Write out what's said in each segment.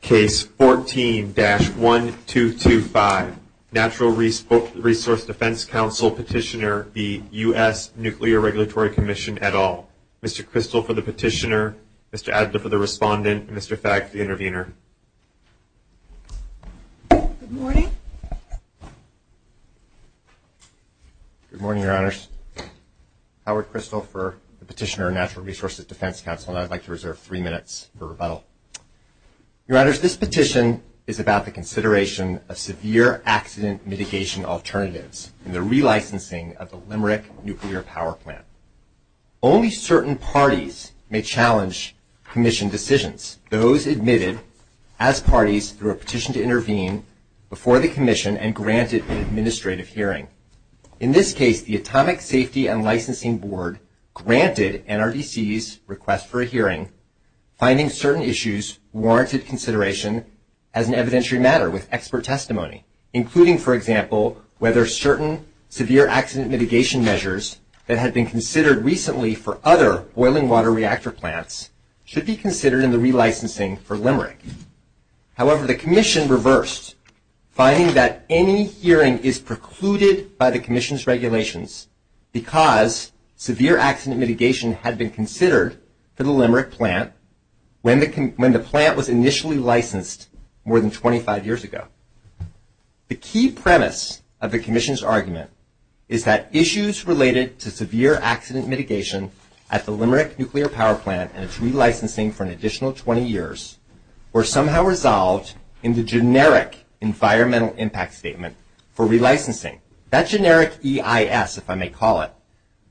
Case 14-1225, Natural Resources Defense Council Petitioner v. U.S. Nuclear Regulatory Commission et al. Mr. Kristol for the petitioner, Mr. Adler for the respondent, and Mr. Fagg for the intervener. Good morning. Good morning, Your Honors. Howard Kristol for the petitioner, Natural Resources Defense Council, and I'd like to reserve three minutes for rebuttal. Your Honors, this petition is about the consideration of severe accident mitigation alternatives and the relicensing of the Limerick Nuclear Power Plant. Only certain parties may challenge commission decisions. Those admitted as parties through a petition to intervene before the commission and granted an administrative hearing. In this case, the Atomic Safety and Licensing Board granted NRDC's request for a hearing, finding certain issues warranted consideration as an evidentiary matter with expert testimony, including, for example, whether certain severe accident mitigation measures that had been considered recently for other boiling water reactor plants should be considered in the relicensing for Limerick. However, the commission reversed, finding that any hearing is precluded by the commission's regulations because severe accident mitigation had been considered for the Limerick plant when the plant was initially licensed more than 25 years ago. The key premise of the commission's argument is that issues related to severe accident mitigation at the Limerick Nuclear Power Plant and its relicensing for an additional 20 years were somehow resolved in the generic environmental impact statement for relicensing. That generic EIS, if I may call it,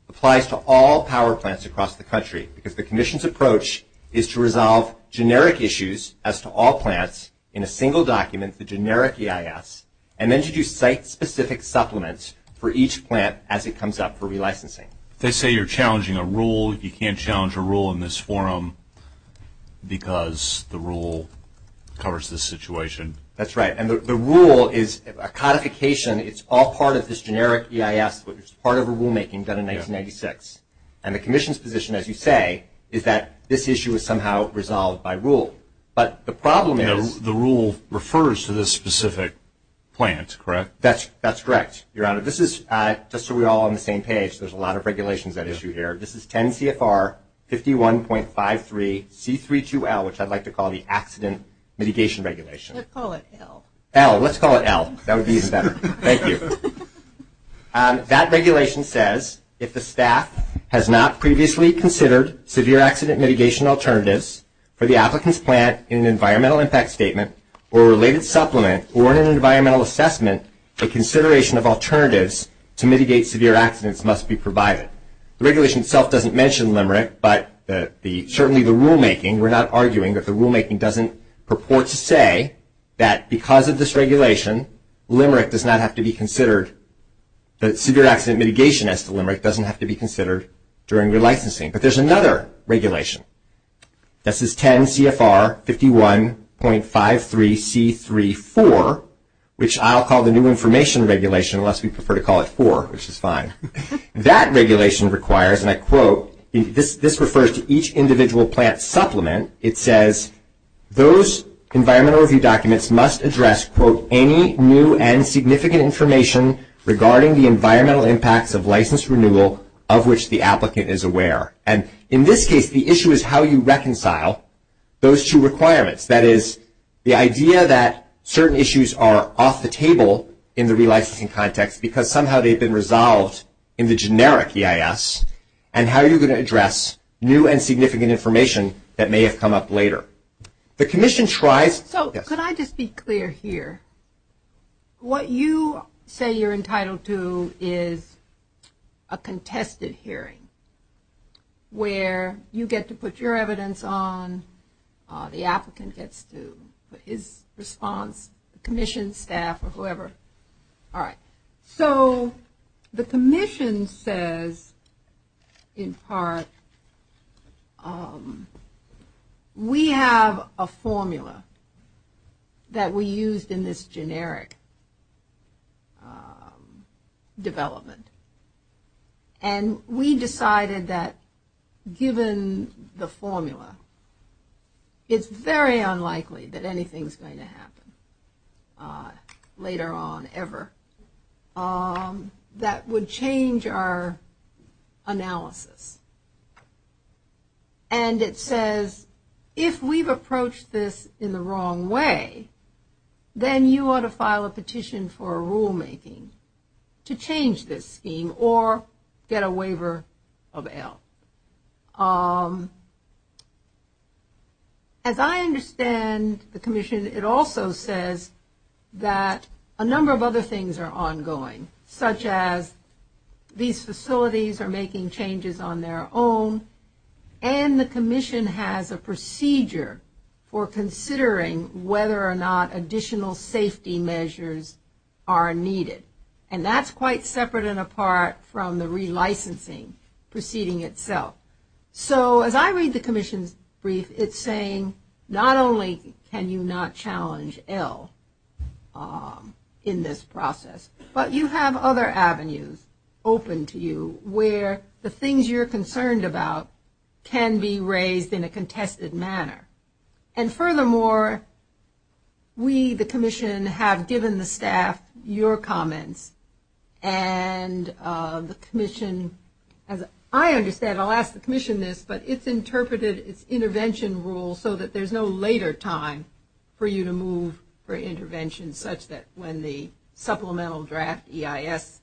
applies to all power plants across the country because the commission's approach is to resolve generic issues as to all plants in a single document, the generic EIS, and then to do site-specific supplements for each plant as it comes up for relicensing. They say you're challenging a rule. You can't challenge a rule in this forum because the rule covers this situation. That's right. And the rule is a codification. It's all part of this generic EIS, which is part of a rulemaking done in 1996. And the commission's position, as you say, is that this issue is somehow resolved by rule. But the problem is the rule refers to this specific plant, correct? That's correct, Your Honor. This is just so we're all on the same page. There's a lot of regulations at issue here. This is 10 CFR 51.53C32L, which I'd like to call the accident mitigation regulation. Let's call it L. L, let's call it L. That would be even better. Thank you. That regulation says if the staff has not previously considered severe accident mitigation alternatives for the applicant's plant in an environmental impact statement or related supplement or in an environmental assessment, a consideration of alternatives to mitigate severe accidents must be provided. The regulation itself doesn't mention LIMERIC, but certainly the rulemaking, we're not arguing that the rulemaking doesn't purport to say that because of this regulation, LIMERIC does not have to be considered, that severe accident mitigation as to LIMERIC doesn't have to be considered during relicensing. But there's another regulation. This is 10 CFR 51.53C34, which I'll call the new information regulation, unless we prefer to call it 4, which is fine. That regulation requires, and I quote, this refers to each individual plant supplement, it says those environmental review documents must address, quote, any new and significant information regarding the environmental impacts of license renewal of which the applicant is aware. And in this case, the issue is how you reconcile those two requirements. That is, the idea that certain issues are off the table in the relicensing context because somehow they've been resolved in the generic EIS, and how you're going to address new and significant information that may have come up later. The commission tries to, yes? Just be clear here. What you say you're entitled to is a contested hearing where you get to put your evidence on, the applicant gets to put his response, commission, staff, or whoever. All right. So, the commission says, in part, we have a formula that we used in this generic development. And we decided that given the formula, it's very unlikely that anything's going to happen later on ever. That would change our analysis. And it says, if we've approached this in the wrong way, then you ought to file a petition for a rulemaking to change this scheme or get a waiver of L. As I understand the commission, it also says that a number of other things are ongoing, such as these facilities are making changes on their own, and the commission has a procedure for considering whether or not additional safety measures are needed. And that's quite separate and apart from the relicensing proceeding itself. So, as I read the commission's brief, it's saying not only can you not challenge L in this process, but you have other avenues open to you where the things you're concerned about can be raised in a contested manner. And furthermore, we, the commission, have given the staff your comments, and the commission, as I understand, I'll ask the commission this, but it's interpreted its intervention rule so that there's no later time for you to move for intervention, such that when the supplemental draft EIS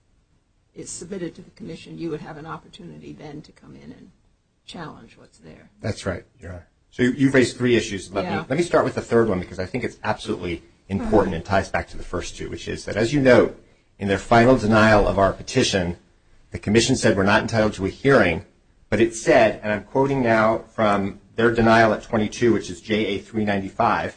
is submitted to the commission, you would have an opportunity then to come in and challenge what's there. That's right. So, you've raised three issues. Let me start with the third one, because I think it's absolutely important and ties back to the first two, which is that, as you note, in their final denial of our petition, the commission said we're not entitled to a hearing, but it said, and I'm quoting now from their denial at 22, which is JA395,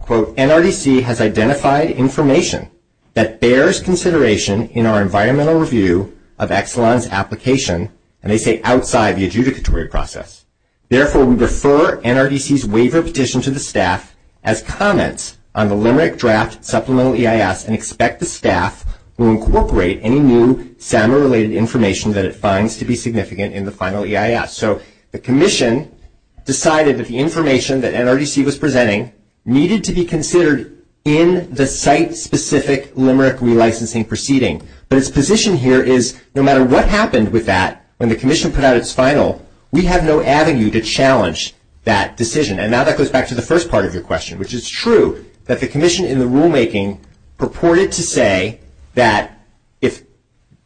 quote, NRDC has identified information that bears consideration in our environmental review of Exelon's application, and they say outside the adjudicatory process. Therefore, we refer NRDC's waiver petition to the staff as comments on the limerick draft supplemental EIS and expect the staff will incorporate any new SAMA-related information that it finds to be significant in the final EIS. So, the commission decided that the information that NRDC was presenting needed to be considered in the site-specific limerick relicensing proceeding, but its position here is no matter what happened with that when the commission put out its final, we have no avenue to challenge that decision. And now that goes back to the first part of your question, which is true that the commission in the rulemaking purported to say that if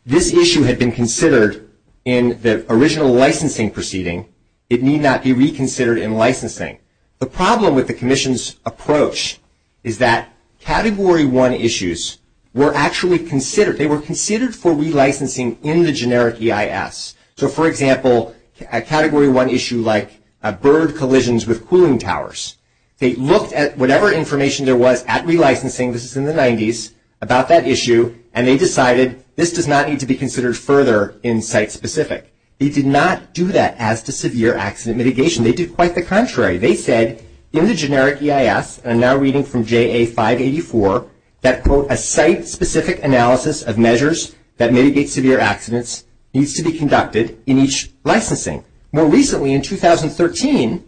this issue had been considered in the original licensing proceeding, it need not be reconsidered in licensing. The problem with the commission's approach is that Category 1 issues were actually considered. They were considered for relicensing in the generic EIS. So, for example, a Category 1 issue like bird collisions with cooling towers. They looked at whatever information there was at relicensing, this is in the 90s, about that issue, and they decided this does not need to be considered further in site-specific. They did not do that as to severe accident mitigation. They did quite the contrary. They said in the generic EIS, and I'm now reading from JA584, that, quote, a site-specific analysis of measures that mitigate severe accidents needs to be conducted in each licensing. More recently, in 2013,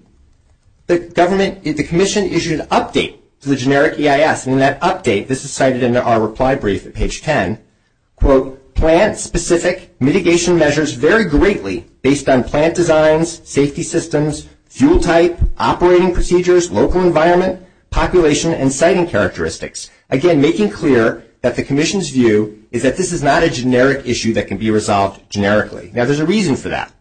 the commission issued an update to the generic EIS, and in that update, this is cited in our reply brief at page 10, quote, plant-specific mitigation measures vary greatly based on plant designs, safety systems, fuel type, operating procedures, local environment, population, and siting characteristics. Again, making clear that the commission's view is that this is not a generic issue that can be resolved generically. Now, there's a reason for that.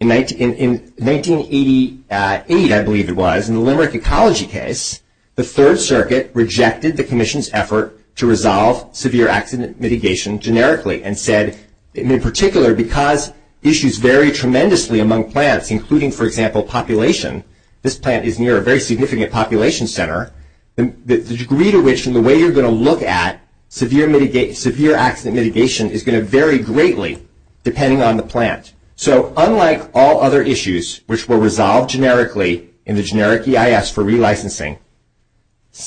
In 1988, I believe it was, in the limerick ecology case, the Third Circuit rejected the commission's effort to resolve severe accident mitigation generically and said, in particular, because issues vary tremendously among plants, including, for example, population. This plant is near a very significant population center. The degree to which and the way you're going to look at severe accident mitigation is going to vary greatly depending on the plant. So, unlike all other issues, which were resolved generically in the generic EIS for relicensing,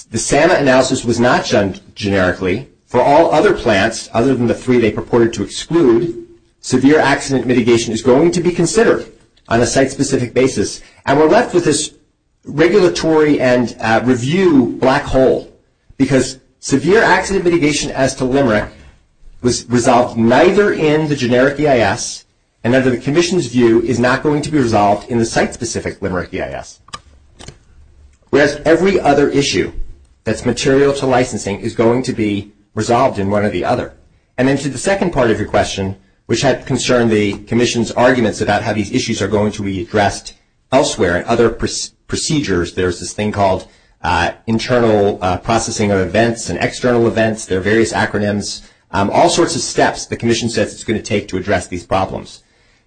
the SAMA analysis was not done generically. For all other plants, other than the three they purported to exclude, severe accident mitigation is going to be considered on a site-specific basis. And we're left with this regulatory and review black hole, because severe accident mitigation as to limerick was resolved neither in the generic EIS and under the commission's view is not going to be resolved in the site-specific limerick EIS. Whereas every other issue that's material to licensing is going to be resolved in one or the other. And then to the second part of your question, which had concerned the commission's arguments about how these issues are going to be addressed elsewhere, and other procedures, there's this thing called internal processing of events and external events. There are various acronyms. All sorts of steps the commission says it's going to take to address these problems.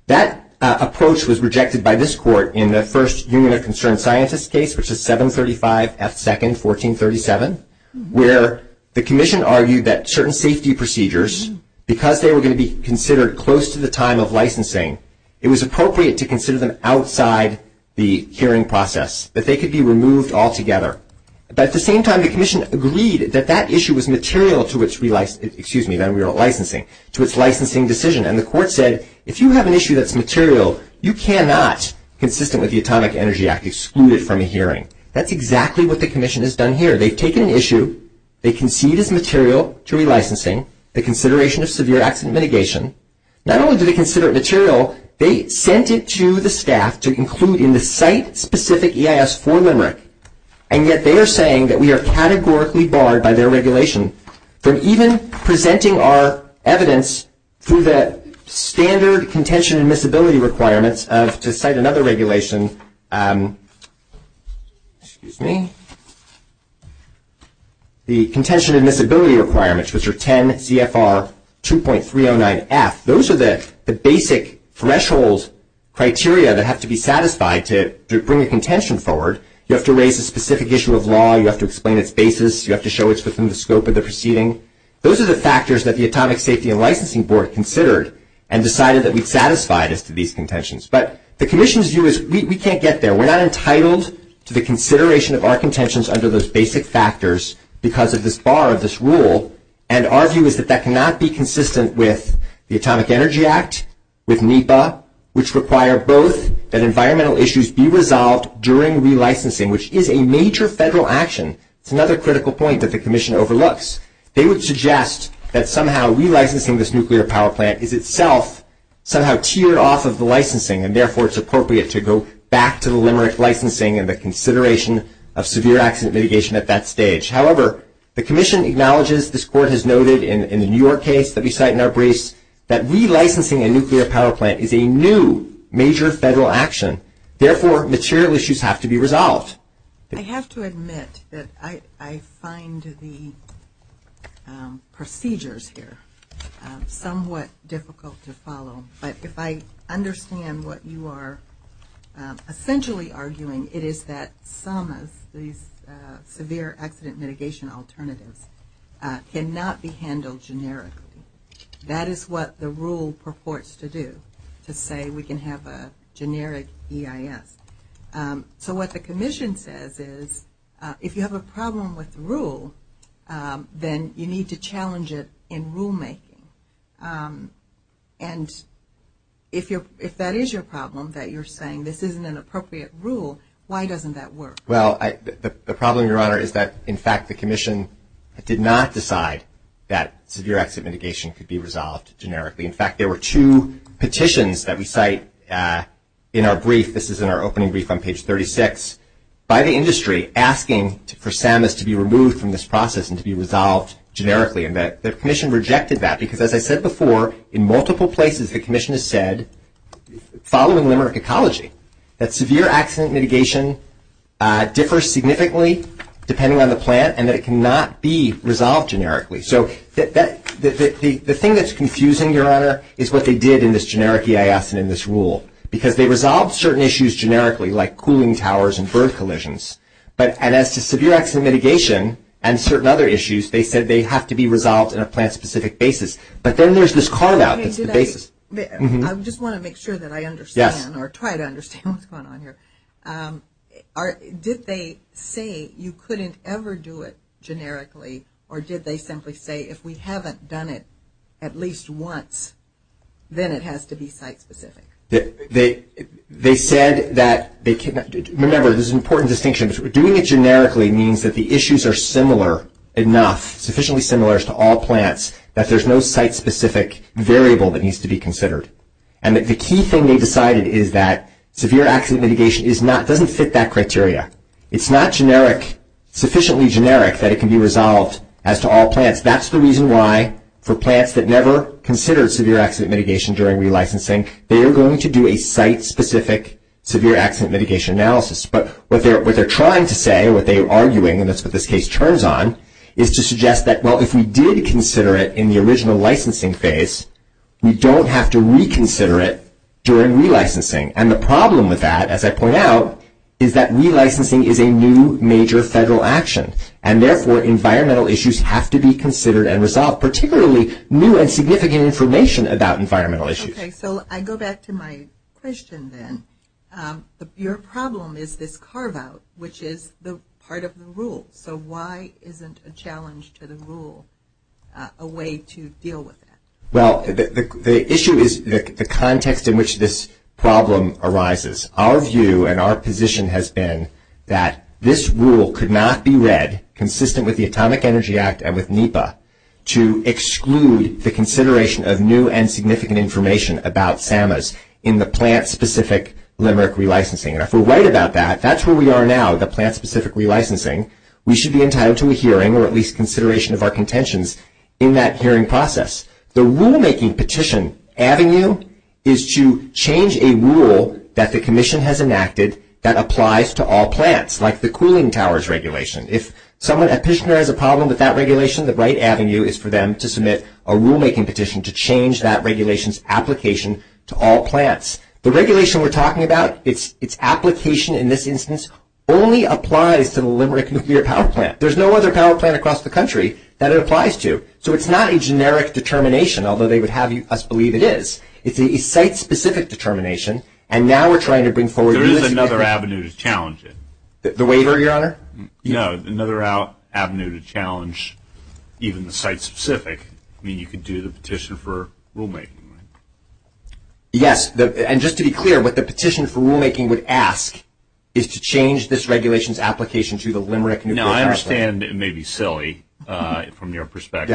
That approach was rejected by this court in the first Union of Concerned Scientists case, which is 735 F. 2nd, 1437, where the commission argued that certain safety procedures, because they were going to be considered close to the time of licensing, it was appropriate to consider them outside the hearing process, that they could be removed altogether. But at the same time, the commission agreed that that issue was material to its licensing decision. And the court said, if you have an issue that's material, you cannot, consistent with the Atomic Energy Act, exclude it from a hearing. That's exactly what the commission has done here. They've taken an issue, they concede it's material to relicensing, the consideration of severe accident mitigation. Not only do they consider it material, they sent it to the staff to include in the site-specific EIS for Limerick. And yet they are saying that we are categorically barred by their regulation from even presenting our evidence through the standard contention admissibility requirements of, to cite another regulation, excuse me, the contention admissibility requirements, which are 10 CFR 2.309F. Those are the basic threshold criteria that have to be satisfied to bring a contention forward. You have to raise a specific issue of law. You have to explain its basis. You have to show it's within the scope of the proceeding. Those are the factors that the Atomic Safety and Licensing Board considered and decided that we'd satisfied as to these contentions. But the commission's view is we can't get there. We're not entitled to the consideration of our contentions under those basic factors because of this bar of this rule. And our view is that that cannot be consistent with the Atomic Energy Act, with NEPA, which require both that environmental issues be resolved during relicensing, which is a major federal action. It's another critical point that the commission overlooks. They would suggest that somehow relicensing this nuclear power plant is itself somehow tiered off of the licensing, and therefore it's appropriate to go back to the limerick licensing and the consideration of severe accident mitigation at that stage. However, the commission acknowledges, this Court has noted in the New York case that we cite in our briefs, that relicensing a nuclear power plant is a new major federal action. Therefore, material issues have to be resolved. I have to admit that I find the procedures here somewhat difficult to follow. But if I understand what you are essentially arguing, it is that some of these severe accident mitigation alternatives cannot be handled generically. That is what the rule purports to do, to say we can have a generic EIS. So what the commission says is, if you have a problem with the rule, then you need to challenge it in rulemaking. And if that is your problem, that you're saying this isn't an appropriate rule, why doesn't that work? Well, the problem, Your Honor, is that, in fact, the commission did not decide that severe accident mitigation could be resolved generically. In fact, there were two petitions that we cite in our brief, this is in our opening brief on page 36, by the industry asking for SAMAs to be removed from this process and to be resolved generically. And the commission rejected that because, as I said before, in multiple places the commission has said, following Limerick Ecology, that severe accident mitigation differs significantly depending on the plant and that it cannot be resolved generically. So the thing that's confusing, Your Honor, is what they did in this generic EIS and in this rule. Because they resolved certain issues generically, like cooling towers and bird collisions, and as to severe accident mitigation and certain other issues, they said they have to be resolved in a plant-specific basis. But then there's this carve-out that's the basis. I just want to make sure that I understand or try to understand what's going on here. Did they say you couldn't ever do it generically, or did they simply say if we haven't done it at least once, then it has to be site-specific? They said that they can't. Remember, this is an important distinction. Doing it generically means that the issues are similar enough, sufficiently similar to all plants, that there's no site-specific variable that needs to be considered. And that the key thing they decided is that severe accident mitigation doesn't fit that criteria. It's not sufficiently generic that it can be resolved as to all plants. That's the reason why, for plants that never considered severe accident mitigation during relicensing, they are going to do a site-specific severe accident mitigation analysis. But what they're trying to say, what they're arguing, and that's what this case turns on, is to suggest that, well, if we did consider it in the original licensing phase, we don't have to reconsider it during relicensing. And the problem with that, as I point out, is that relicensing is a new major federal action. And therefore, environmental issues have to be considered and resolved, particularly new and significant information about environmental issues. Okay, so I go back to my question then. Your problem is this carve-out, which is part of the rule. So why isn't a challenge to the rule a way to deal with that? Well, the issue is the context in which this problem arises. Our view and our position has been that this rule could not be read, consistent with the Atomic Energy Act and with NEPA, to exclude the consideration of new and significant information about SAMAs in the plant-specific limerick relicensing. And if we're right about that, that's where we are now, the plant-specific relicensing. We should be entitled to a hearing or at least consideration of our contentions in that hearing process. The rule-making petition avenue is to change a rule that the Commission has enacted that applies to all plants, like the cooling towers regulation. If a petitioner has a problem with that regulation, the right avenue is for them to submit a rule-making petition to change that regulation's application to all plants. The regulation we're talking about, its application in this instance, only applies to the limerick nuclear power plant. There's no other power plant across the country that it applies to. So it's not a generic determination, although they would have us believe it is. It's a site-specific determination. And now we're trying to bring forward the list of people. There is another avenue to challenge it. The waiver, Your Honor? No, another avenue to challenge even the site-specific. I mean, you could do the petition for rule-making. Yes, and just to be clear, what the petition for rule-making would ask is to change this regulation's application to the limerick nuclear power plant. Now, I understand it may be silly from your perspective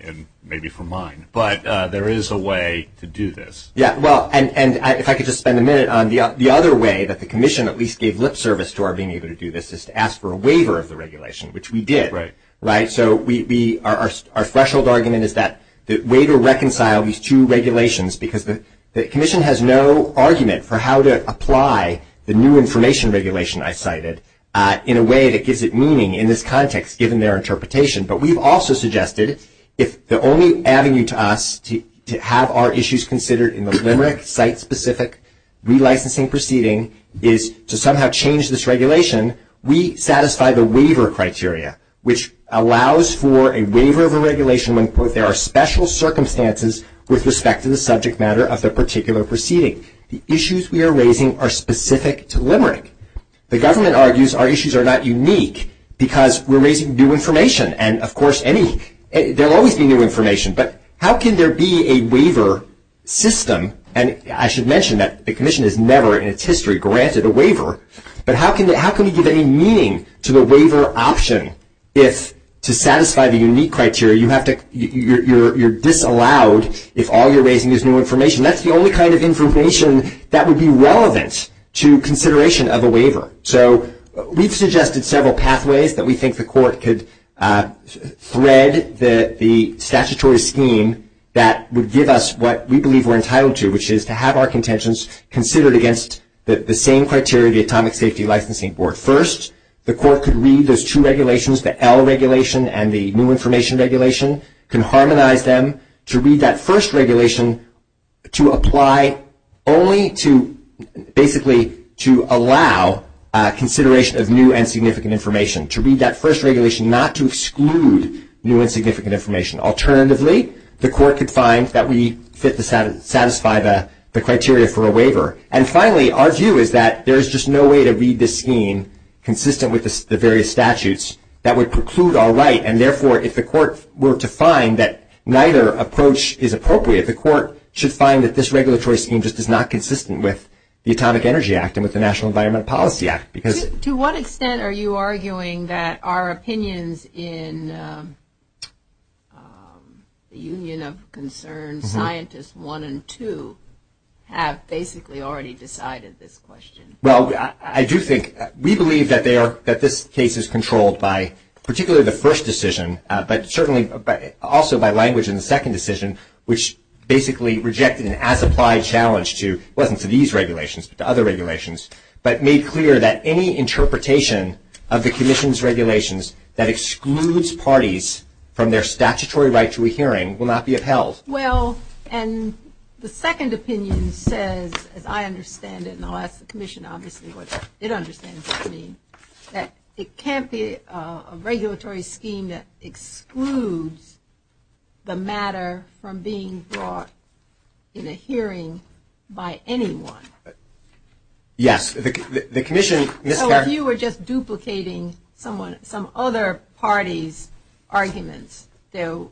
and maybe from mine, but there is a way to do this. Yeah, well, and if I could just spend a minute on the other way that the Commission at least gave lip service to our being able to do this is to ask for a waiver of the regulation, which we did, right? And so our threshold argument is that the waiver reconcile these two regulations because the Commission has no argument for how to apply the new information regulation I cited in a way that gives it meaning in this context given their interpretation. But we've also suggested if the only avenue to us to have our issues considered in the limerick site-specific relicensing proceeding is to somehow change this regulation, we satisfy the waiver criteria, which allows for a waiver of a regulation when, quote, there are special circumstances with respect to the subject matter of the particular proceeding. The issues we are raising are specific to limerick. The government argues our issues are not unique because we're raising new information. And, of course, there will always be new information, but how can there be a waiver system? And I should mention that the Commission has never in its history granted a waiver, but how can we give any meaning to the waiver option if, to satisfy the unique criteria, you're disallowed if all you're raising is new information? That's the only kind of information that would be relevant to consideration of a waiver. So we've suggested several pathways that we think the court could thread the statutory scheme that would give us what we believe we're entitled to, which is to have our contentions considered against the same criteria of the Atomic Safety Licensing Board. First, the court could read those two regulations, the L regulation and the new information regulation, can harmonize them to read that first regulation to apply only to basically to allow consideration of new and significant information, to read that first regulation not to exclude new and significant information. Alternatively, the court could find that we fit to satisfy the criteria for a waiver. And, finally, our view is that there is just no way to read this scheme consistent with the various statutes that would preclude our right, and, therefore, if the court were to find that neither approach is appropriate, the court should find that this regulatory scheme just is not consistent with the Atomic Energy Act and with the National Environmental Policy Act. To what extent are you arguing that our opinions in the Union of Concerned Scientists 1 and 2 have basically already decided this question? Well, I do think we believe that this case is controlled by particularly the first decision, but certainly also by language in the second decision, which basically rejected an as-applied challenge to, well, it wasn't to these regulations but to other regulations, but made clear that any interpretation of the Commission's regulations that excludes parties from their statutory right to a hearing will not be upheld. Well, and the second opinion says, as I understand it, and I'll ask the Commission, obviously, what it understands what I mean, that it can't be a regulatory scheme that excludes the matter from being brought in a hearing by anyone. Yes. The Commission mischaracterizes... So, if you were just duplicating some other party's arguments, you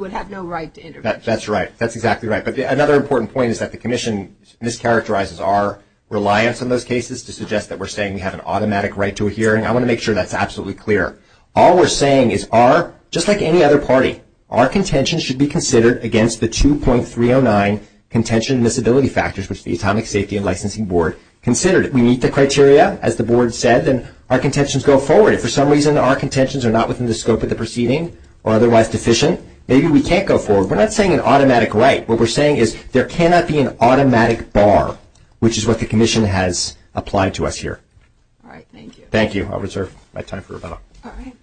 would have no right to intervene. That's right. That's exactly right. But another important point is that the Commission mischaracterizes our reliance on those cases to suggest that we're saying we have an automatic right to a hearing. I want to make sure that's absolutely clear. All we're saying is our, just like any other party, our contention should be considered against the 2.309 contention and disability factors, which the Atomic Safety and Licensing Board considered. We meet the criteria, as the Board said, and our contentions go forward. If for some reason our contentions are not within the scope of the proceeding or otherwise deficient, maybe we can't go forward. We're not saying an automatic right. What we're saying is there cannot be an automatic bar, which is what the Commission has applied to us here. All right. Thank you. I'll reserve my time for rebuttal. All right.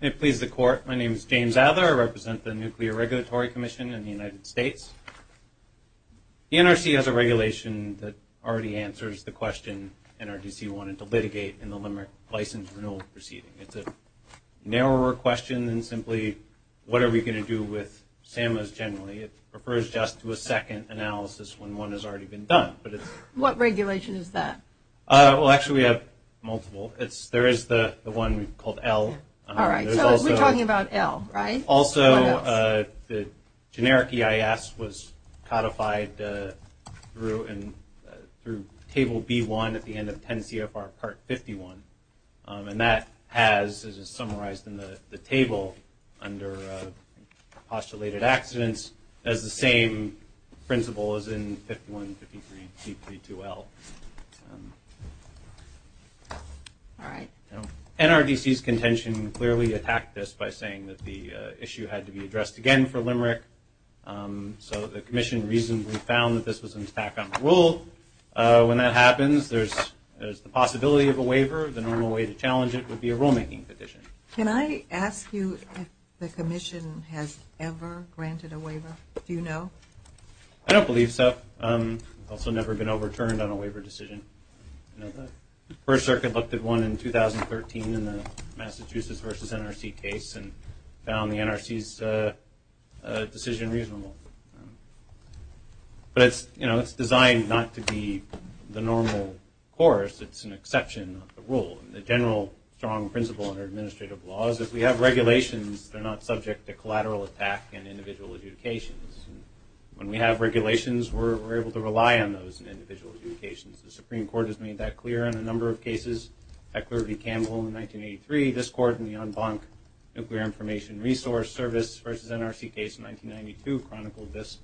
May it please the Court, my name is James Ather. I represent the Nuclear Regulatory Commission in the United States. The NRC has a regulation that already answers the question NRDC wanted to litigate in the license renewal proceeding. It's a narrower question than simply what are we going to do with SAMAs generally. It refers just to a second analysis when one has already been done. What regulation is that? Well, actually we have multiple. There is the one called L. All right. So we're talking about L, right? Also, the generic EIS was codified through Table B-1 at the end of 10 CFR Part 51. And that has, as is summarized in the table under postulated accidents, has the same principle as in 51, 53, C32L. All right. NRDC's contention clearly attacked this by saying that the issue had to be addressed again for Limerick. So the Commission reasonably found that this was an attack on the rule. When that happens, there's the possibility of a waiver. The normal way to challenge it would be a rulemaking petition. Can I ask you if the Commission has ever granted a waiver? Do you know? I don't believe so. Also never been overturned on a waiver decision. The First Circuit looked at one in 2013 in the Massachusetts versus NRC case and found the NRC's decision reasonable. But it's designed not to be the normal course. It's an exception of the rule. And the general strong principle under administrative law is if we have regulations, they're not subject to collateral attack and individual adjudications. When we have regulations, we're able to rely on those individual adjudications. The Supreme Court has made that clear in a number of cases. Heckler v. Campbell in 1983. This Court in the en banc nuclear information resource service versus NRC case in 1992 chronicled this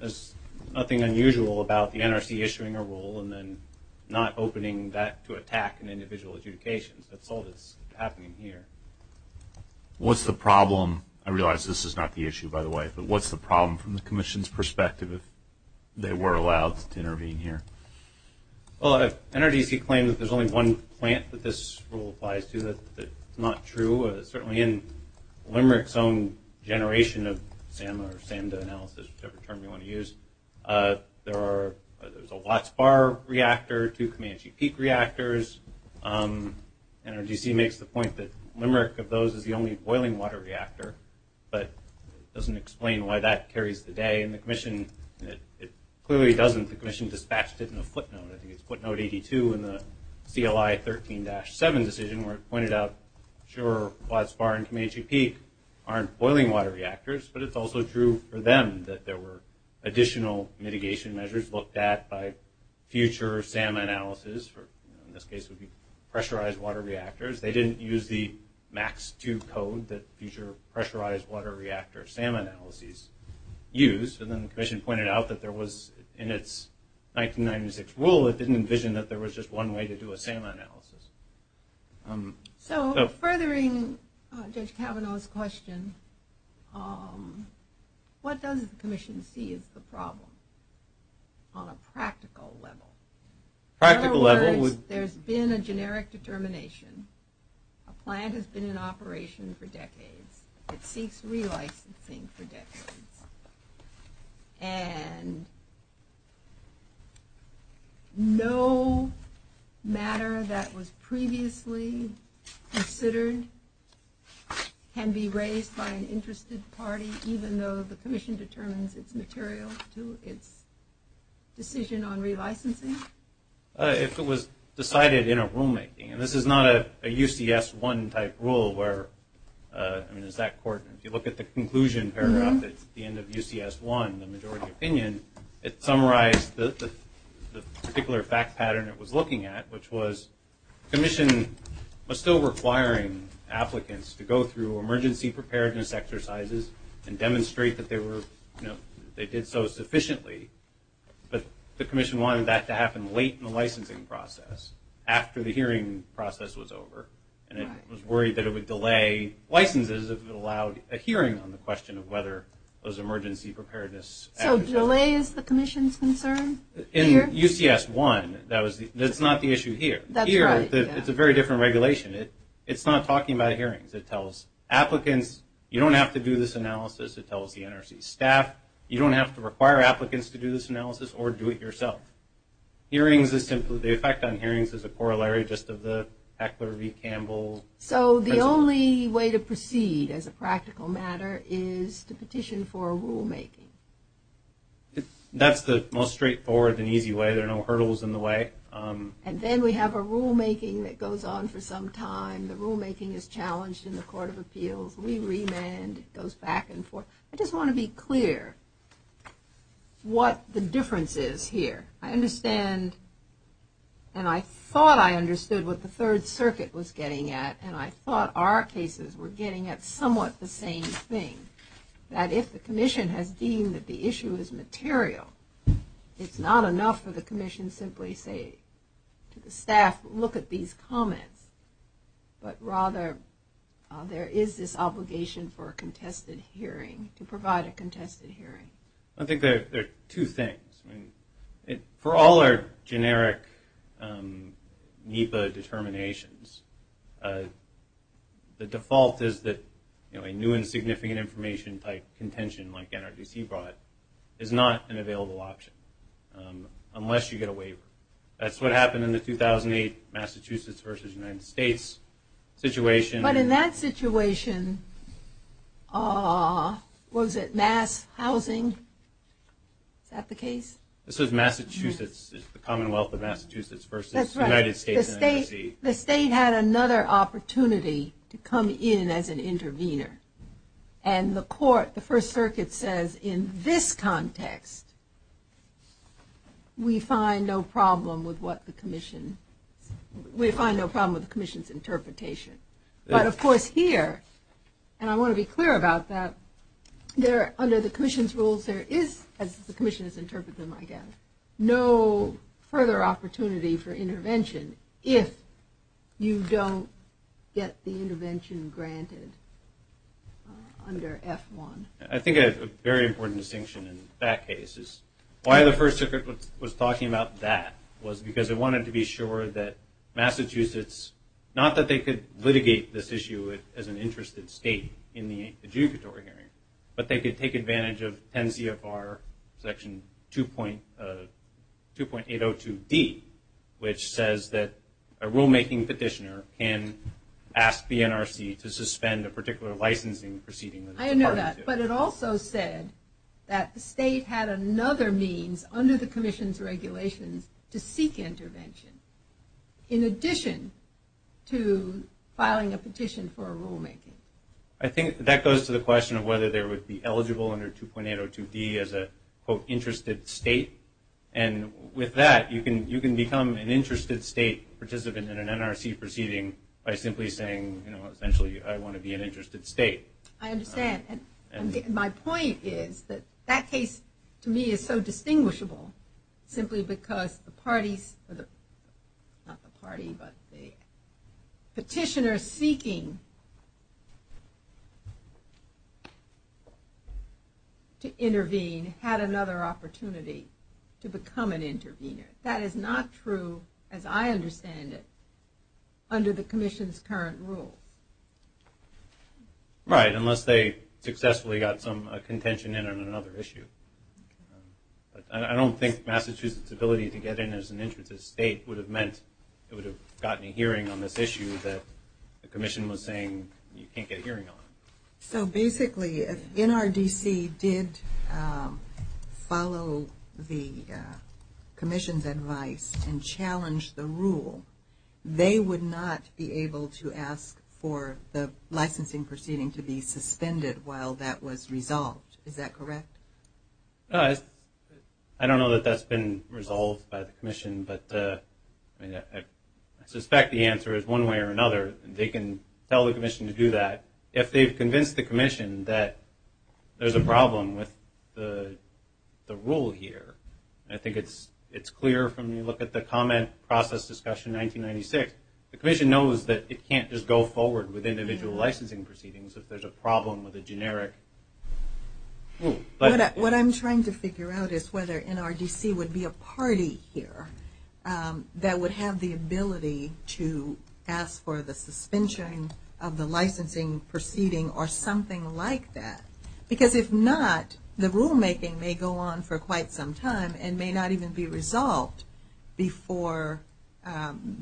as nothing unusual about the NRC issuing a rule and then not opening that to attack and individual adjudications. That's all that's happening here. What's the problem? I realize this is not the issue, by the way, but what's the problem from the Commission's perspective if they were allowed to intervene here? NRGC claims that there's only one plant that this rule applies to. That's not true. Certainly in Limerick's own generation of SAM or SAMDA analysis, whichever term you want to use, there's a Watts-Barr reactor, two Comanche Peak reactors. NRGC makes the point that Limerick, of those, is the only boiling water reactor, but it doesn't explain why that carries the day in the Commission. It clearly doesn't. The Commission dispatched it in a footnote. I think it's footnote 82 in the CLI 13-7 decision where it pointed out, sure, Watts-Barr and Comanche Peak aren't boiling water reactors, but it's also true for them that there were additional mitigation measures looked at by future SAM analysis, or in this case would be pressurized water reactors. They didn't use the Max-2 code that future pressurized water reactor SAM analyses used, and then the Commission pointed out that there was, in its 1996 rule, it didn't envision that there was just one way to do a SAM analysis. So furthering Judge Kavanaugh's question, what does the Commission see as the problem on a practical level? In other words, there's been a generic determination. A plant has been in operation for decades. And no matter that was previously considered can be raised by an interested party, even though the Commission determines it's material to its decision on relicensing? If it was decided in a rulemaking, and this is not a UCS-1 type rule where, I mean, if you look at the conclusion paragraph that's at the end of UCS-1, the majority opinion, it summarized the particular fact pattern it was looking at, which was the Commission was still requiring applicants to go through emergency preparedness exercises and demonstrate that they did so sufficiently, but the Commission wanted that to happen late in the licensing process, after the hearing process was over. And it was worried that it would delay licenses if it allowed a hearing on the question of whether there was emergency preparedness. So delay is the Commission's concern here? In UCS-1, that's not the issue here. Here, it's a very different regulation. It's not talking about hearings. It tells applicants, you don't have to do this analysis. It tells the NRC staff, you don't have to require applicants to do this analysis or do it yourself. The effect on hearings is a corollary just of the Heckler v. Campbell. So the only way to proceed as a practical matter is to petition for a rulemaking? That's the most straightforward and easy way. There are no hurdles in the way. And then we have a rulemaking that goes on for some time. The rulemaking is challenged in the Court of Appeals. We remand. It goes back and forth. I just want to be clear what the difference is here. I understand and I thought I understood what the Third Circuit was getting at, and I thought our cases were getting at somewhat the same thing. That if the Commission has deemed that the issue is material, it's not enough for the Commission simply to say to the staff, look at these comments. But rather, there is this obligation for a contested hearing, to provide a contested hearing. I think there are two things. For all our generic NEPA determinations, the default is that a new and significant information-type contention like NRDC brought is not an available option unless you get a waiver. That's what happened in the 2008 Massachusetts v. United States situation. But in that situation, was it mass housing? Is that the case? This was Massachusetts, the Commonwealth of Massachusetts v. United States NRC. That's right. The state had another opportunity to come in as an intervener. And the court, the First Circuit says in this context, we find no problem with what the Commission, we find no problem with the Commission's interpretation. But of course here, and I want to be clear about that, under the Commission's rules, there is, as the Commission has interpreted them, I guess, no further opportunity for intervention if you don't get the intervention granted. Under F1. I think a very important distinction in that case is why the First Circuit was talking about that was because it wanted to be sure that Massachusetts, not that they could litigate this issue as an interested state in the adjudicatory hearing, but they could take advantage of 10 CFR section 2.802D, which says that a rulemaking petitioner can ask the NRC to suspend a particular licensing proceeding. I know that. But it also said that the state had another means under the Commission's regulations to seek intervention in addition to filing a petition for a rulemaking. I think that goes to the question of whether they would be eligible under 2.802D as a, quote, interested state. And with that, you can become an interested state participant in an NRC proceeding by simply saying, you know, essentially, I want to be an interested state. I understand. My point is that that case, to me, is so distinguishable simply because the parties, not the party, but the petitioner seeking to intervene had another opportunity to become an intervener. That is not true, as I understand it, under the Commission's current rule. Right, unless they successfully got some contention in on another issue. But I don't think Massachusetts' ability to get in as an interested state would have meant it would have gotten a hearing on this issue that the Commission was saying you can't get a hearing on. So basically, if NRDC did follow the Commission's advice and challenge the rule, they would not be able to ask for the licensing proceeding to be suspended while that was resolved. Is that correct? I don't know that that's been resolved by the Commission, but I suspect the answer is one way or another. They can tell the Commission to do that. If they've convinced the Commission that there's a problem with the rule here, I think it's clear when you look at the comment process discussion 1996. The Commission knows that it can't just go forward with individual licensing proceedings if there's a problem with a generic rule. What I'm trying to figure out is whether NRDC would be a party here that would have the ability to ask for the suspension of the licensing proceeding or something like that. Because if not, the rulemaking may go on for quite some time and may not even be resolved before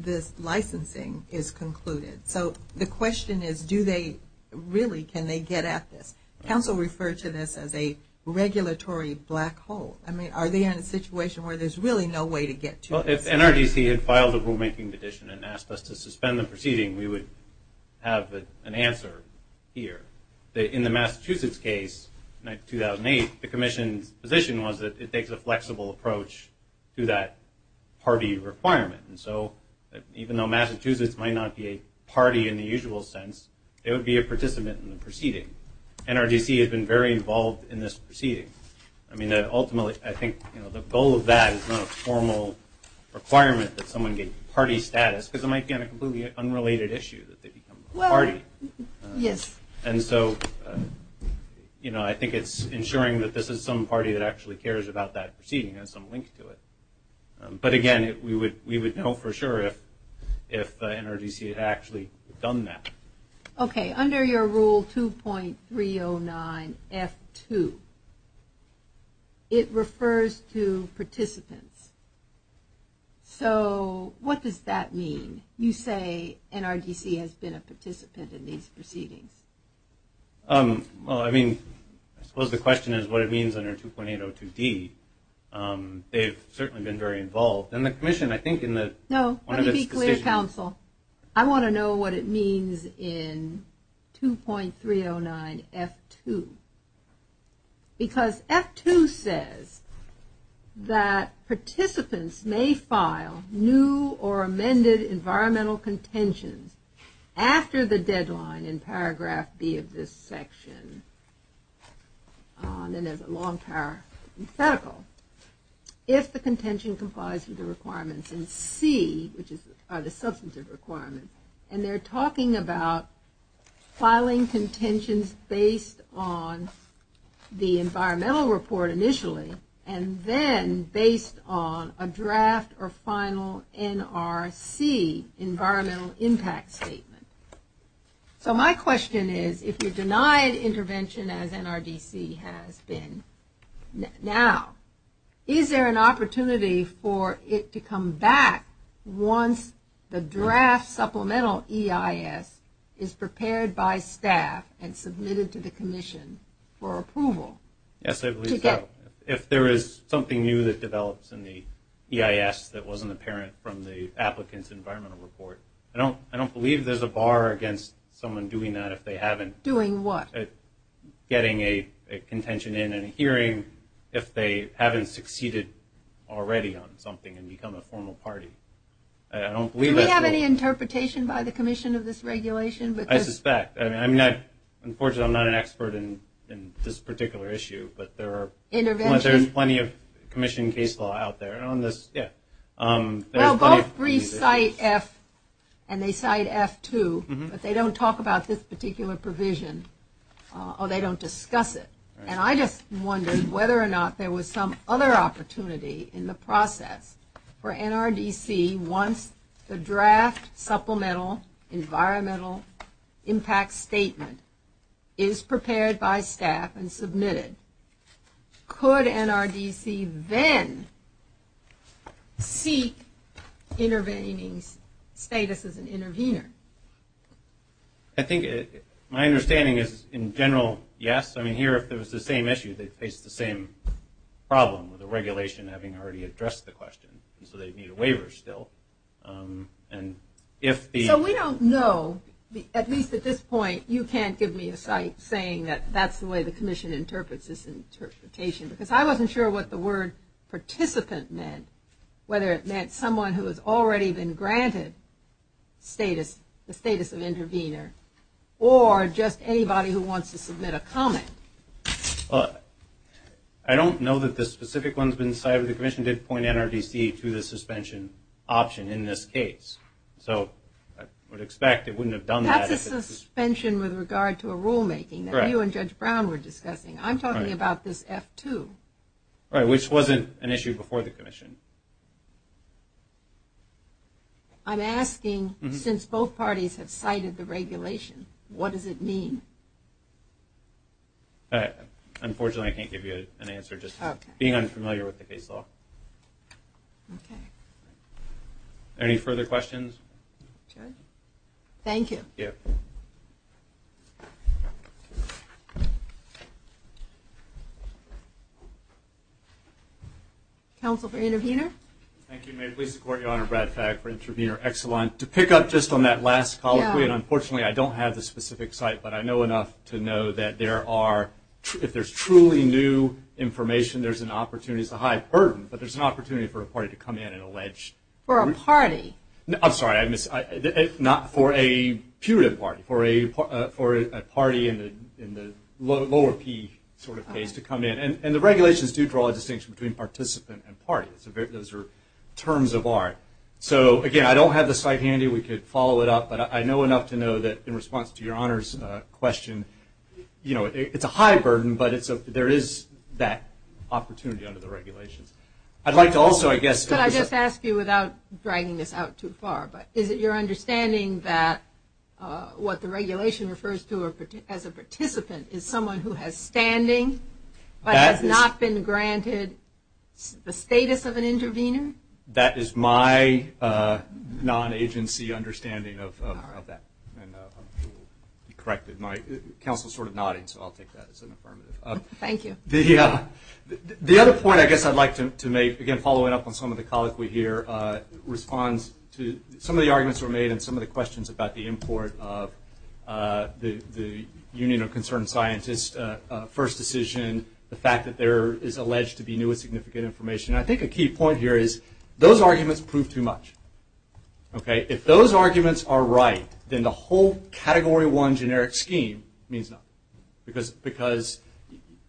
this licensing is concluded. So the question is, do they really, can they get at this? Council referred to this as a regulatory black hole. Are they in a situation where there's really no way to get to this? If NRDC had filed a rulemaking petition and asked us to suspend the proceeding, we would have an answer here. In the Massachusetts case, 2008, the Commission's position was that it takes a flexible approach to that party requirement. Even though Massachusetts might not be a party in the usual sense, it would be a participant in the proceeding. NRDC has been very involved in this proceeding. Ultimately, I think the goal of that is not a formal requirement that someone get party status, because it might be on a completely unrelated issue that they become a party. And so I think it's ensuring that this is some party that actually cares about that proceeding and has some link to it. But again, we would know for sure if NRDC had actually done that. Okay. Under your rule 2.309F2, it refers to participants. So what does that mean? You say NRDC has been a participant in these proceedings. Well, I mean, I suppose the question is what it means under 2.802D. They've certainly been very involved. And the Commission, I think, in the... No, let me be clear, counsel. I want to know what it means in 2.309F2. Because F2 says that participants may file new or amended environmental contentions after the deadline in paragraph B of this section. Then there's a long parenthetical. If the contention complies with the requirements in C, which are the substantive requirements, and they're talking about filing contentions based on the environmental report initially, and then based on a draft or final NRC, environmental impact statement. So my question is, if you denied intervention as NRDC has been now, is there an opportunity for it to come back once the draft supplemental EIS is prepared by staff and submitted to the Commission for approval? Yes, I believe so. If there is something new that develops in the EIS that wasn't apparent from the applicant's environmental report. I don't believe there's a bar against someone doing that if they haven't. Doing what? Getting a contention in and hearing if they haven't succeeded already on something and become a formal party. Do we have any interpretation by the Commission of this regulation? I suspect. Unfortunately, I'm not an expert in this particular issue, but there are plenty of Commission case law out there. Well, both briefs cite F, and they cite F2, but they don't talk about this particular provision, or they don't discuss it. And I just wondered whether or not there was some other opportunity in the process for NRDC once the draft supplemental environmental impact statement is prepared by staff and submitted. Could NRDC then seek intervening status as an intervener? I think my understanding is, in general, yes. I mean, here if it was the same issue, they'd face the same problem with the regulation having already addressed the question, and so they'd need a waiver still. So we don't know, at least at this point, You can't give me a cite saying that that's the way the Commission interprets this interpretation, because I wasn't sure what the word participant meant, whether it meant someone who has already been granted status, the status of intervener, or just anybody who wants to submit a comment. I don't know that the specific ones have been cited. The Commission did point NRDC to the suspension option in this case, so I would expect it wouldn't have done that. This is a suspension with regard to a rulemaking that you and Judge Brown were discussing. I'm talking about this F2. Right, which wasn't an issue before the Commission. I'm asking, since both parties have cited the regulation, what does it mean? Unfortunately, I can't give you an answer. Just being unfamiliar with the case law. Any further questions? Thank you. Counsel for intervener? Thank you. May it please the Court, Your Honor, Brad Fagg for intervener. Excellent. To pick up just on that last colloquy, and unfortunately I don't have the specific cite, but I know enough to know that if there's truly new information, there's an opportunity. It's a high burden, but there's an opportunity for a party to come in and allege. For a party? I'm sorry, not for a puritive party, for a party in the lower P sort of case to come in. And the regulations do draw a distinction between participant and party. Those are terms of art. So, again, I don't have the cite handy. We could follow it up, but I know enough to know that in response to Your Honor's question, it's a high burden, but there is that opportunity under the regulations. Could I just ask you, without dragging this out too far, but is it your understanding that what the regulation refers to as a participant is someone who has standing, but has not been granted the status of an intervener? That is my non-agency understanding of that. You corrected my, counsel's sort of nodding, so I'll take that as an affirmative. Thank you. The other point I guess I'd like to make, again, following up on some of the colloquy here, responds to some of the arguments that were made and some of the questions about the import of the Union of Concerned Scientists first decision, the fact that there is alleged to be new and significant information. I think a key point here is those arguments prove too much. If those arguments are right, then the whole Category 1 generic scheme means nothing. Because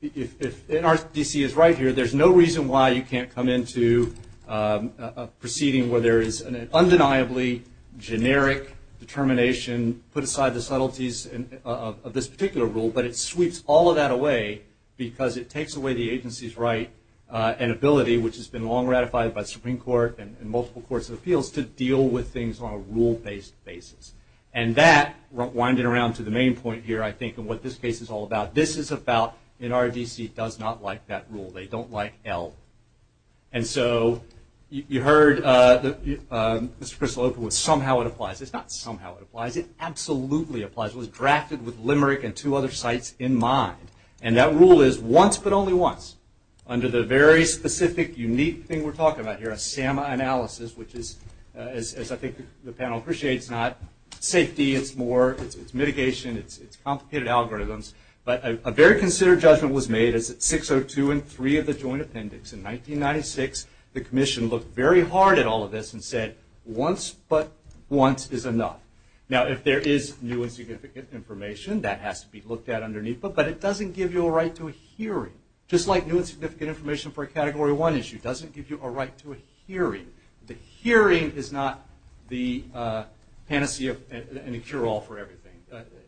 if NRDC is right here, there's no reason why you can't come into a proceeding where there is an undeniably generic determination, put aside the subtleties of this particular rule, but it sweeps all of that away because it takes away the agency's right and ability, which has been long ratified by the Supreme Court and multiple courts of appeals, to deal with things on a rule-based basis. And that, winding around to the main point here, I think, and what this case is all about, this is about NRDC does not like that rule. They don't like L. And so you heard Mr. Kristolopoulos, somehow it applies. It's not somehow it applies. It absolutely applies. It was drafted with Limerick and two other sites in mind. And that rule is once but only once, under the very specific, unique thing we're talking about here, SAMA analysis, which is, as I think the panel appreciates, not safety. It's more mitigation. It's complicated algorithms. But a very considered judgment was made. It's 602 and 3 of the Joint Appendix. In 1996, the Commission looked very hard at all of this and said, once but once is enough. Now, if there is new and significant information, that has to be looked at underneath. But it doesn't give you a right to a hearing. Just like new and significant information for a Category 1 issue doesn't give you a right to a hearing. The hearing is not the panacea and the cure-all for everything.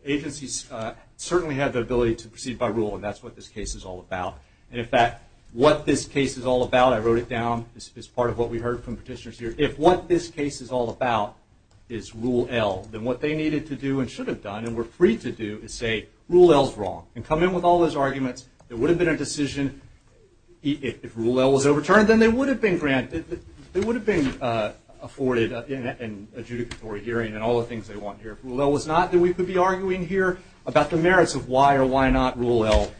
Agencies certainly have the ability to proceed by rule, and that's what this case is all about. And, in fact, what this case is all about, I wrote it down as part of what we heard from petitioners here, if what this case is all about is Rule L, then what they needed to do and should have done and were free to do is say, Rule L is wrong, and come in with all those arguments. There would have been a decision. If Rule L was overturned, then they would have been granted, they would have been afforded an adjudicatory hearing and all the things they want here. If Rule L was not, then we could be arguing here about the merits of why or why not Rule L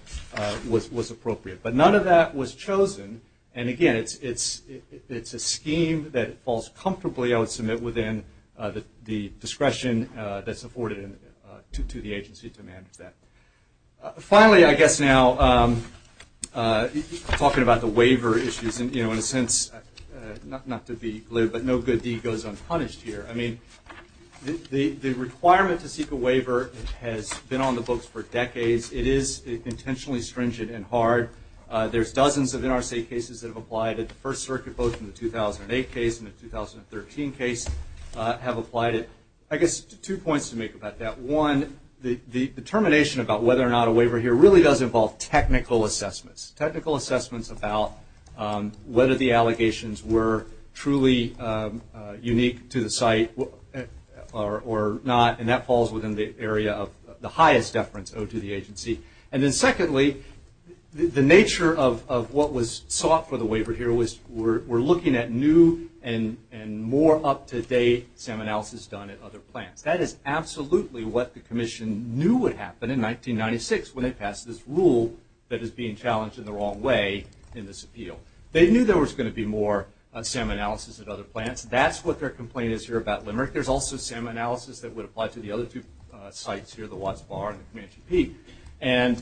was appropriate. But none of that was chosen. And, again, it's a scheme that falls comfortably, I would submit, within the discretion that's afforded to the agency to manage that. Finally, I guess now, talking about the waiver issues, in a sense, not to be glib, but no good deed goes unpunished here. I mean, the requirement to seek a waiver has been on the books for decades. It is intentionally stringent and hard. There's dozens of NRC cases that have applied at the First Circuit, both in the 2008 case and the 2013 case have applied it. I guess two points to make about that. One, the determination about whether or not a waiver here really does involve technical assessments, technical assessments about whether the allegations were truly unique to the site or not, and that falls within the area of the highest deference owed to the agency. And then, secondly, the nature of what was sought for the waiver here was we're looking at new and more up-to-date SAM analysis done at other plants. That is absolutely what the Commission knew would happen in 1996 when they passed this rule that is being challenged in the wrong way in this appeal. They knew there was going to be more SAM analysis at other plants. That's what their complaint is here about Limerick. There's also SAM analysis that would apply to the other two sites here, the Watts Bar and the Comanche Peak. And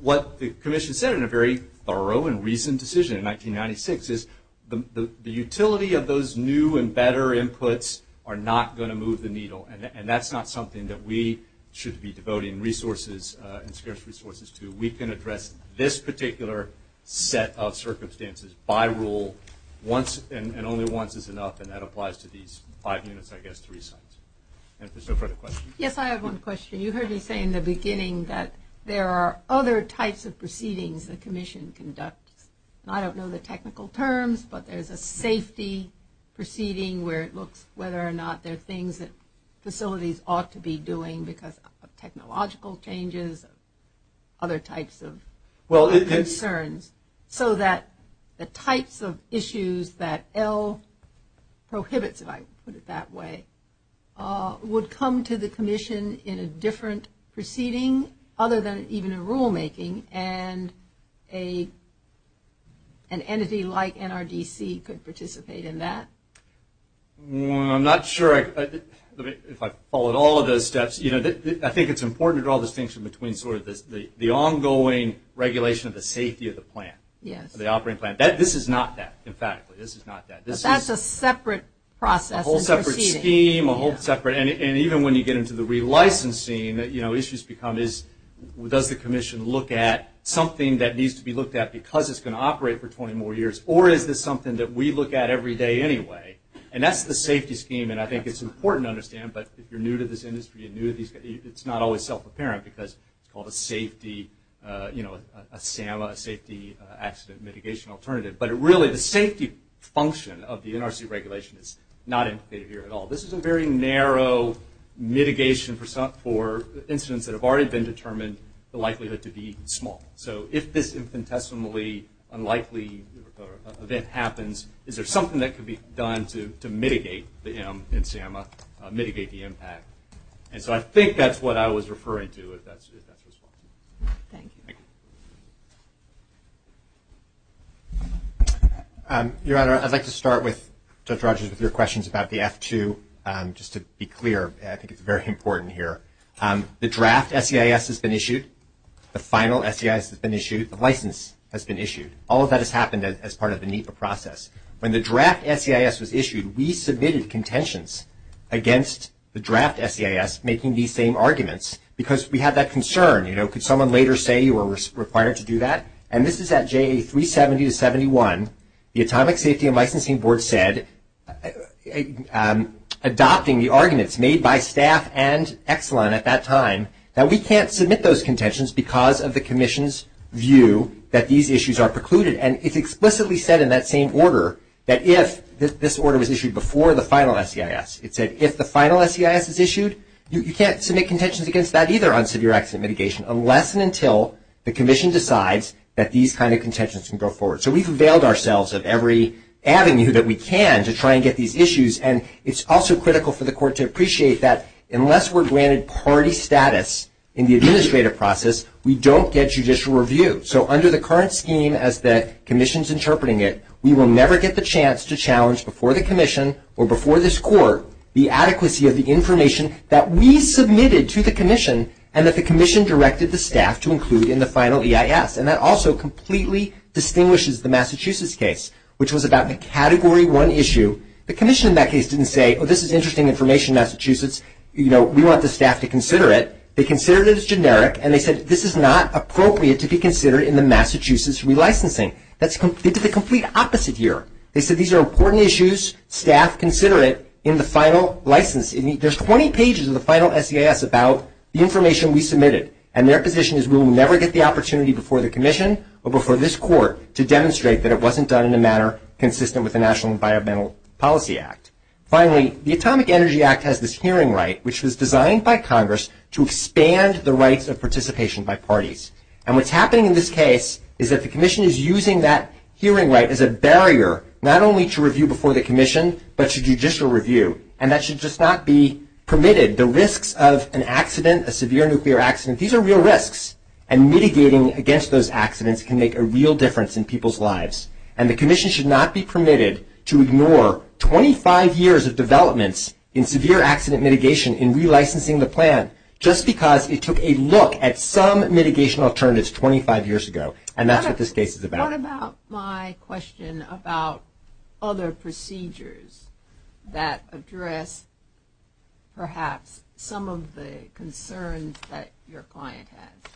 what the Commission said in a very thorough and recent decision in 1996 is the utility of those new and better inputs are not going to move the needle, and that's not something that we should be devoting resources and scarce resources to. We can address this particular set of circumstances by rule once and only once is enough, and that applies to these five units, I guess, three sites. And if there's no further questions. Yes, I have one question. You heard me say in the beginning that there are other types of proceedings the Commission conducts. I don't know the technical terms, but there's a safety proceeding where it looks whether or not there are things that facilities ought to be doing because of technological changes, other types of concerns. So that the types of issues that L prohibits, if I put it that way, would come to the Commission in a different proceeding other than even in rulemaking, and an entity like NRDC could participate in that? I'm not sure if I followed all of those steps. I think it's important to draw a distinction between sort of the ongoing regulation of the safety of the plant. Yes. The operating plant. This is not that, emphatically. This is not that. That's a separate process. A whole separate scheme, a whole separate, and even when you get into the relicensing, you know, issues become is does the Commission look at something that needs to be looked at because it's going to operate for 20 more years, or is this something that we look at every day anyway? And that's the safety scheme, and I think it's important to understand, but if you're new to this industry, it's not always self-apparent because it's called a safety, you know, a SAMA, a safety accident mitigation alternative. But really the safety function of the NRC regulation is not indicated here at all. This is a very narrow mitigation for incidents that have already been determined the likelihood to be small. So if this infinitesimally unlikely event happens, is there something that could be done to mitigate the impact? And so I think that's what I was referring to. Thank you. Your Honor, I'd like to start with Judge Rogers with your questions about the F-2. Just to be clear, I think it's very important here. The draft SEIS has been issued. The final SEIS has been issued. The license has been issued. All of that has happened as part of the NEPA process. When the draft SEIS was issued, we submitted contentions against the draft SEIS making these same arguments because we had that concern. You know, could someone later say you were required to do that? And this is at JA 370 to 71. The Atomic Safety and Licensing Board said, adopting the arguments made by staff and Exelon at that time, that we can't submit those contentions because of the Commission's view that these issues are precluded. And it's explicitly said in that same order that if this order was issued before the final SEIS. It said if the final SEIS is issued, you can't submit contentions against that either on severe accident mitigation unless and until the Commission decides that these kind of contentions can go forward. So we've availed ourselves of every avenue that we can to try and get these issues. And it's also critical for the Court to appreciate that unless we're granted party status in the administrative process, we don't get judicial review. So under the current scheme as the Commission's interpreting it, we will never get the chance to challenge before the Commission or before this Court the adequacy of the information that we submitted to the Commission and that the Commission directed the staff to include in the final EIS. And that also completely distinguishes the Massachusetts case, which was about the Category 1 issue. The Commission in that case didn't say, oh, this is interesting information, Massachusetts. You know, we want the staff to consider it. They considered it as generic, and they said this is not appropriate to be considered in the Massachusetts relicensing. That's the complete opposite here. They said these are important issues. Staff, consider it in the final license. There's 20 pages in the final SEIS about the information we submitted, and their position is we will never get the opportunity before the Commission or before this Court to demonstrate that it wasn't done in a manner consistent with the National Environmental Policy Act. Finally, the Atomic Energy Act has this hearing right, which was designed by Congress to expand the rights of participation by parties. And what's happening in this case is that the Commission is using that hearing right as a barrier, not only to review before the Commission, but to judicial review. And that should just not be permitted. The risks of an accident, a severe nuclear accident, these are real risks, and mitigating against those accidents can make a real difference in people's lives. And the Commission should not be permitted to ignore 25 years of developments in severe accident mitigation in relicensing the plan just because it took a look at some mitigation alternatives 25 years ago. And that's what this case is about. What about my question about other procedures that address perhaps some of the concerns that your client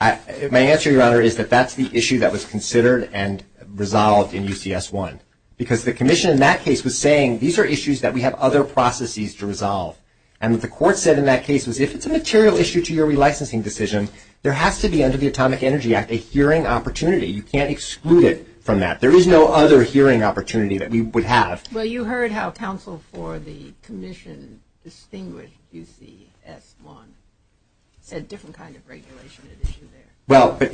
had? My answer, Your Honor, is that that's the issue that was considered and resolved in UCS-1. Because the Commission in that case was saying these are issues that we have other processes to resolve. And what the Court said in that case was if it's a material issue to your relicensing decision, there has to be under the Atomic Energy Act a hearing opportunity. You can't exclude it from that. There is no other hearing opportunity that we would have. Well, you heard how counsel for the Commission distinguished UCS-1. It's a different kind of regulation at issue there. Well, it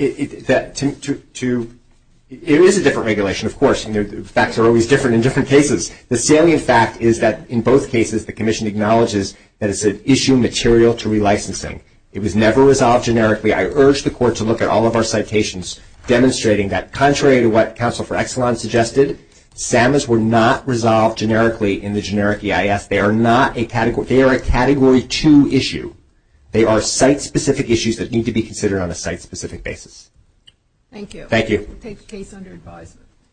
is a different regulation, of course. The facts are always different in different cases. The salient fact is that in both cases the Commission acknowledges that it's an issue material to relicensing. It was never resolved generically. I urge the Court to look at all of our citations demonstrating that contrary to what counsel for Exelon suggested, SAMAs were not resolved generically in the generic EIS. They are a Category 2 issue. They are site-specific issues that need to be considered on a site-specific basis. Thank you. Thank you. Case under advisement.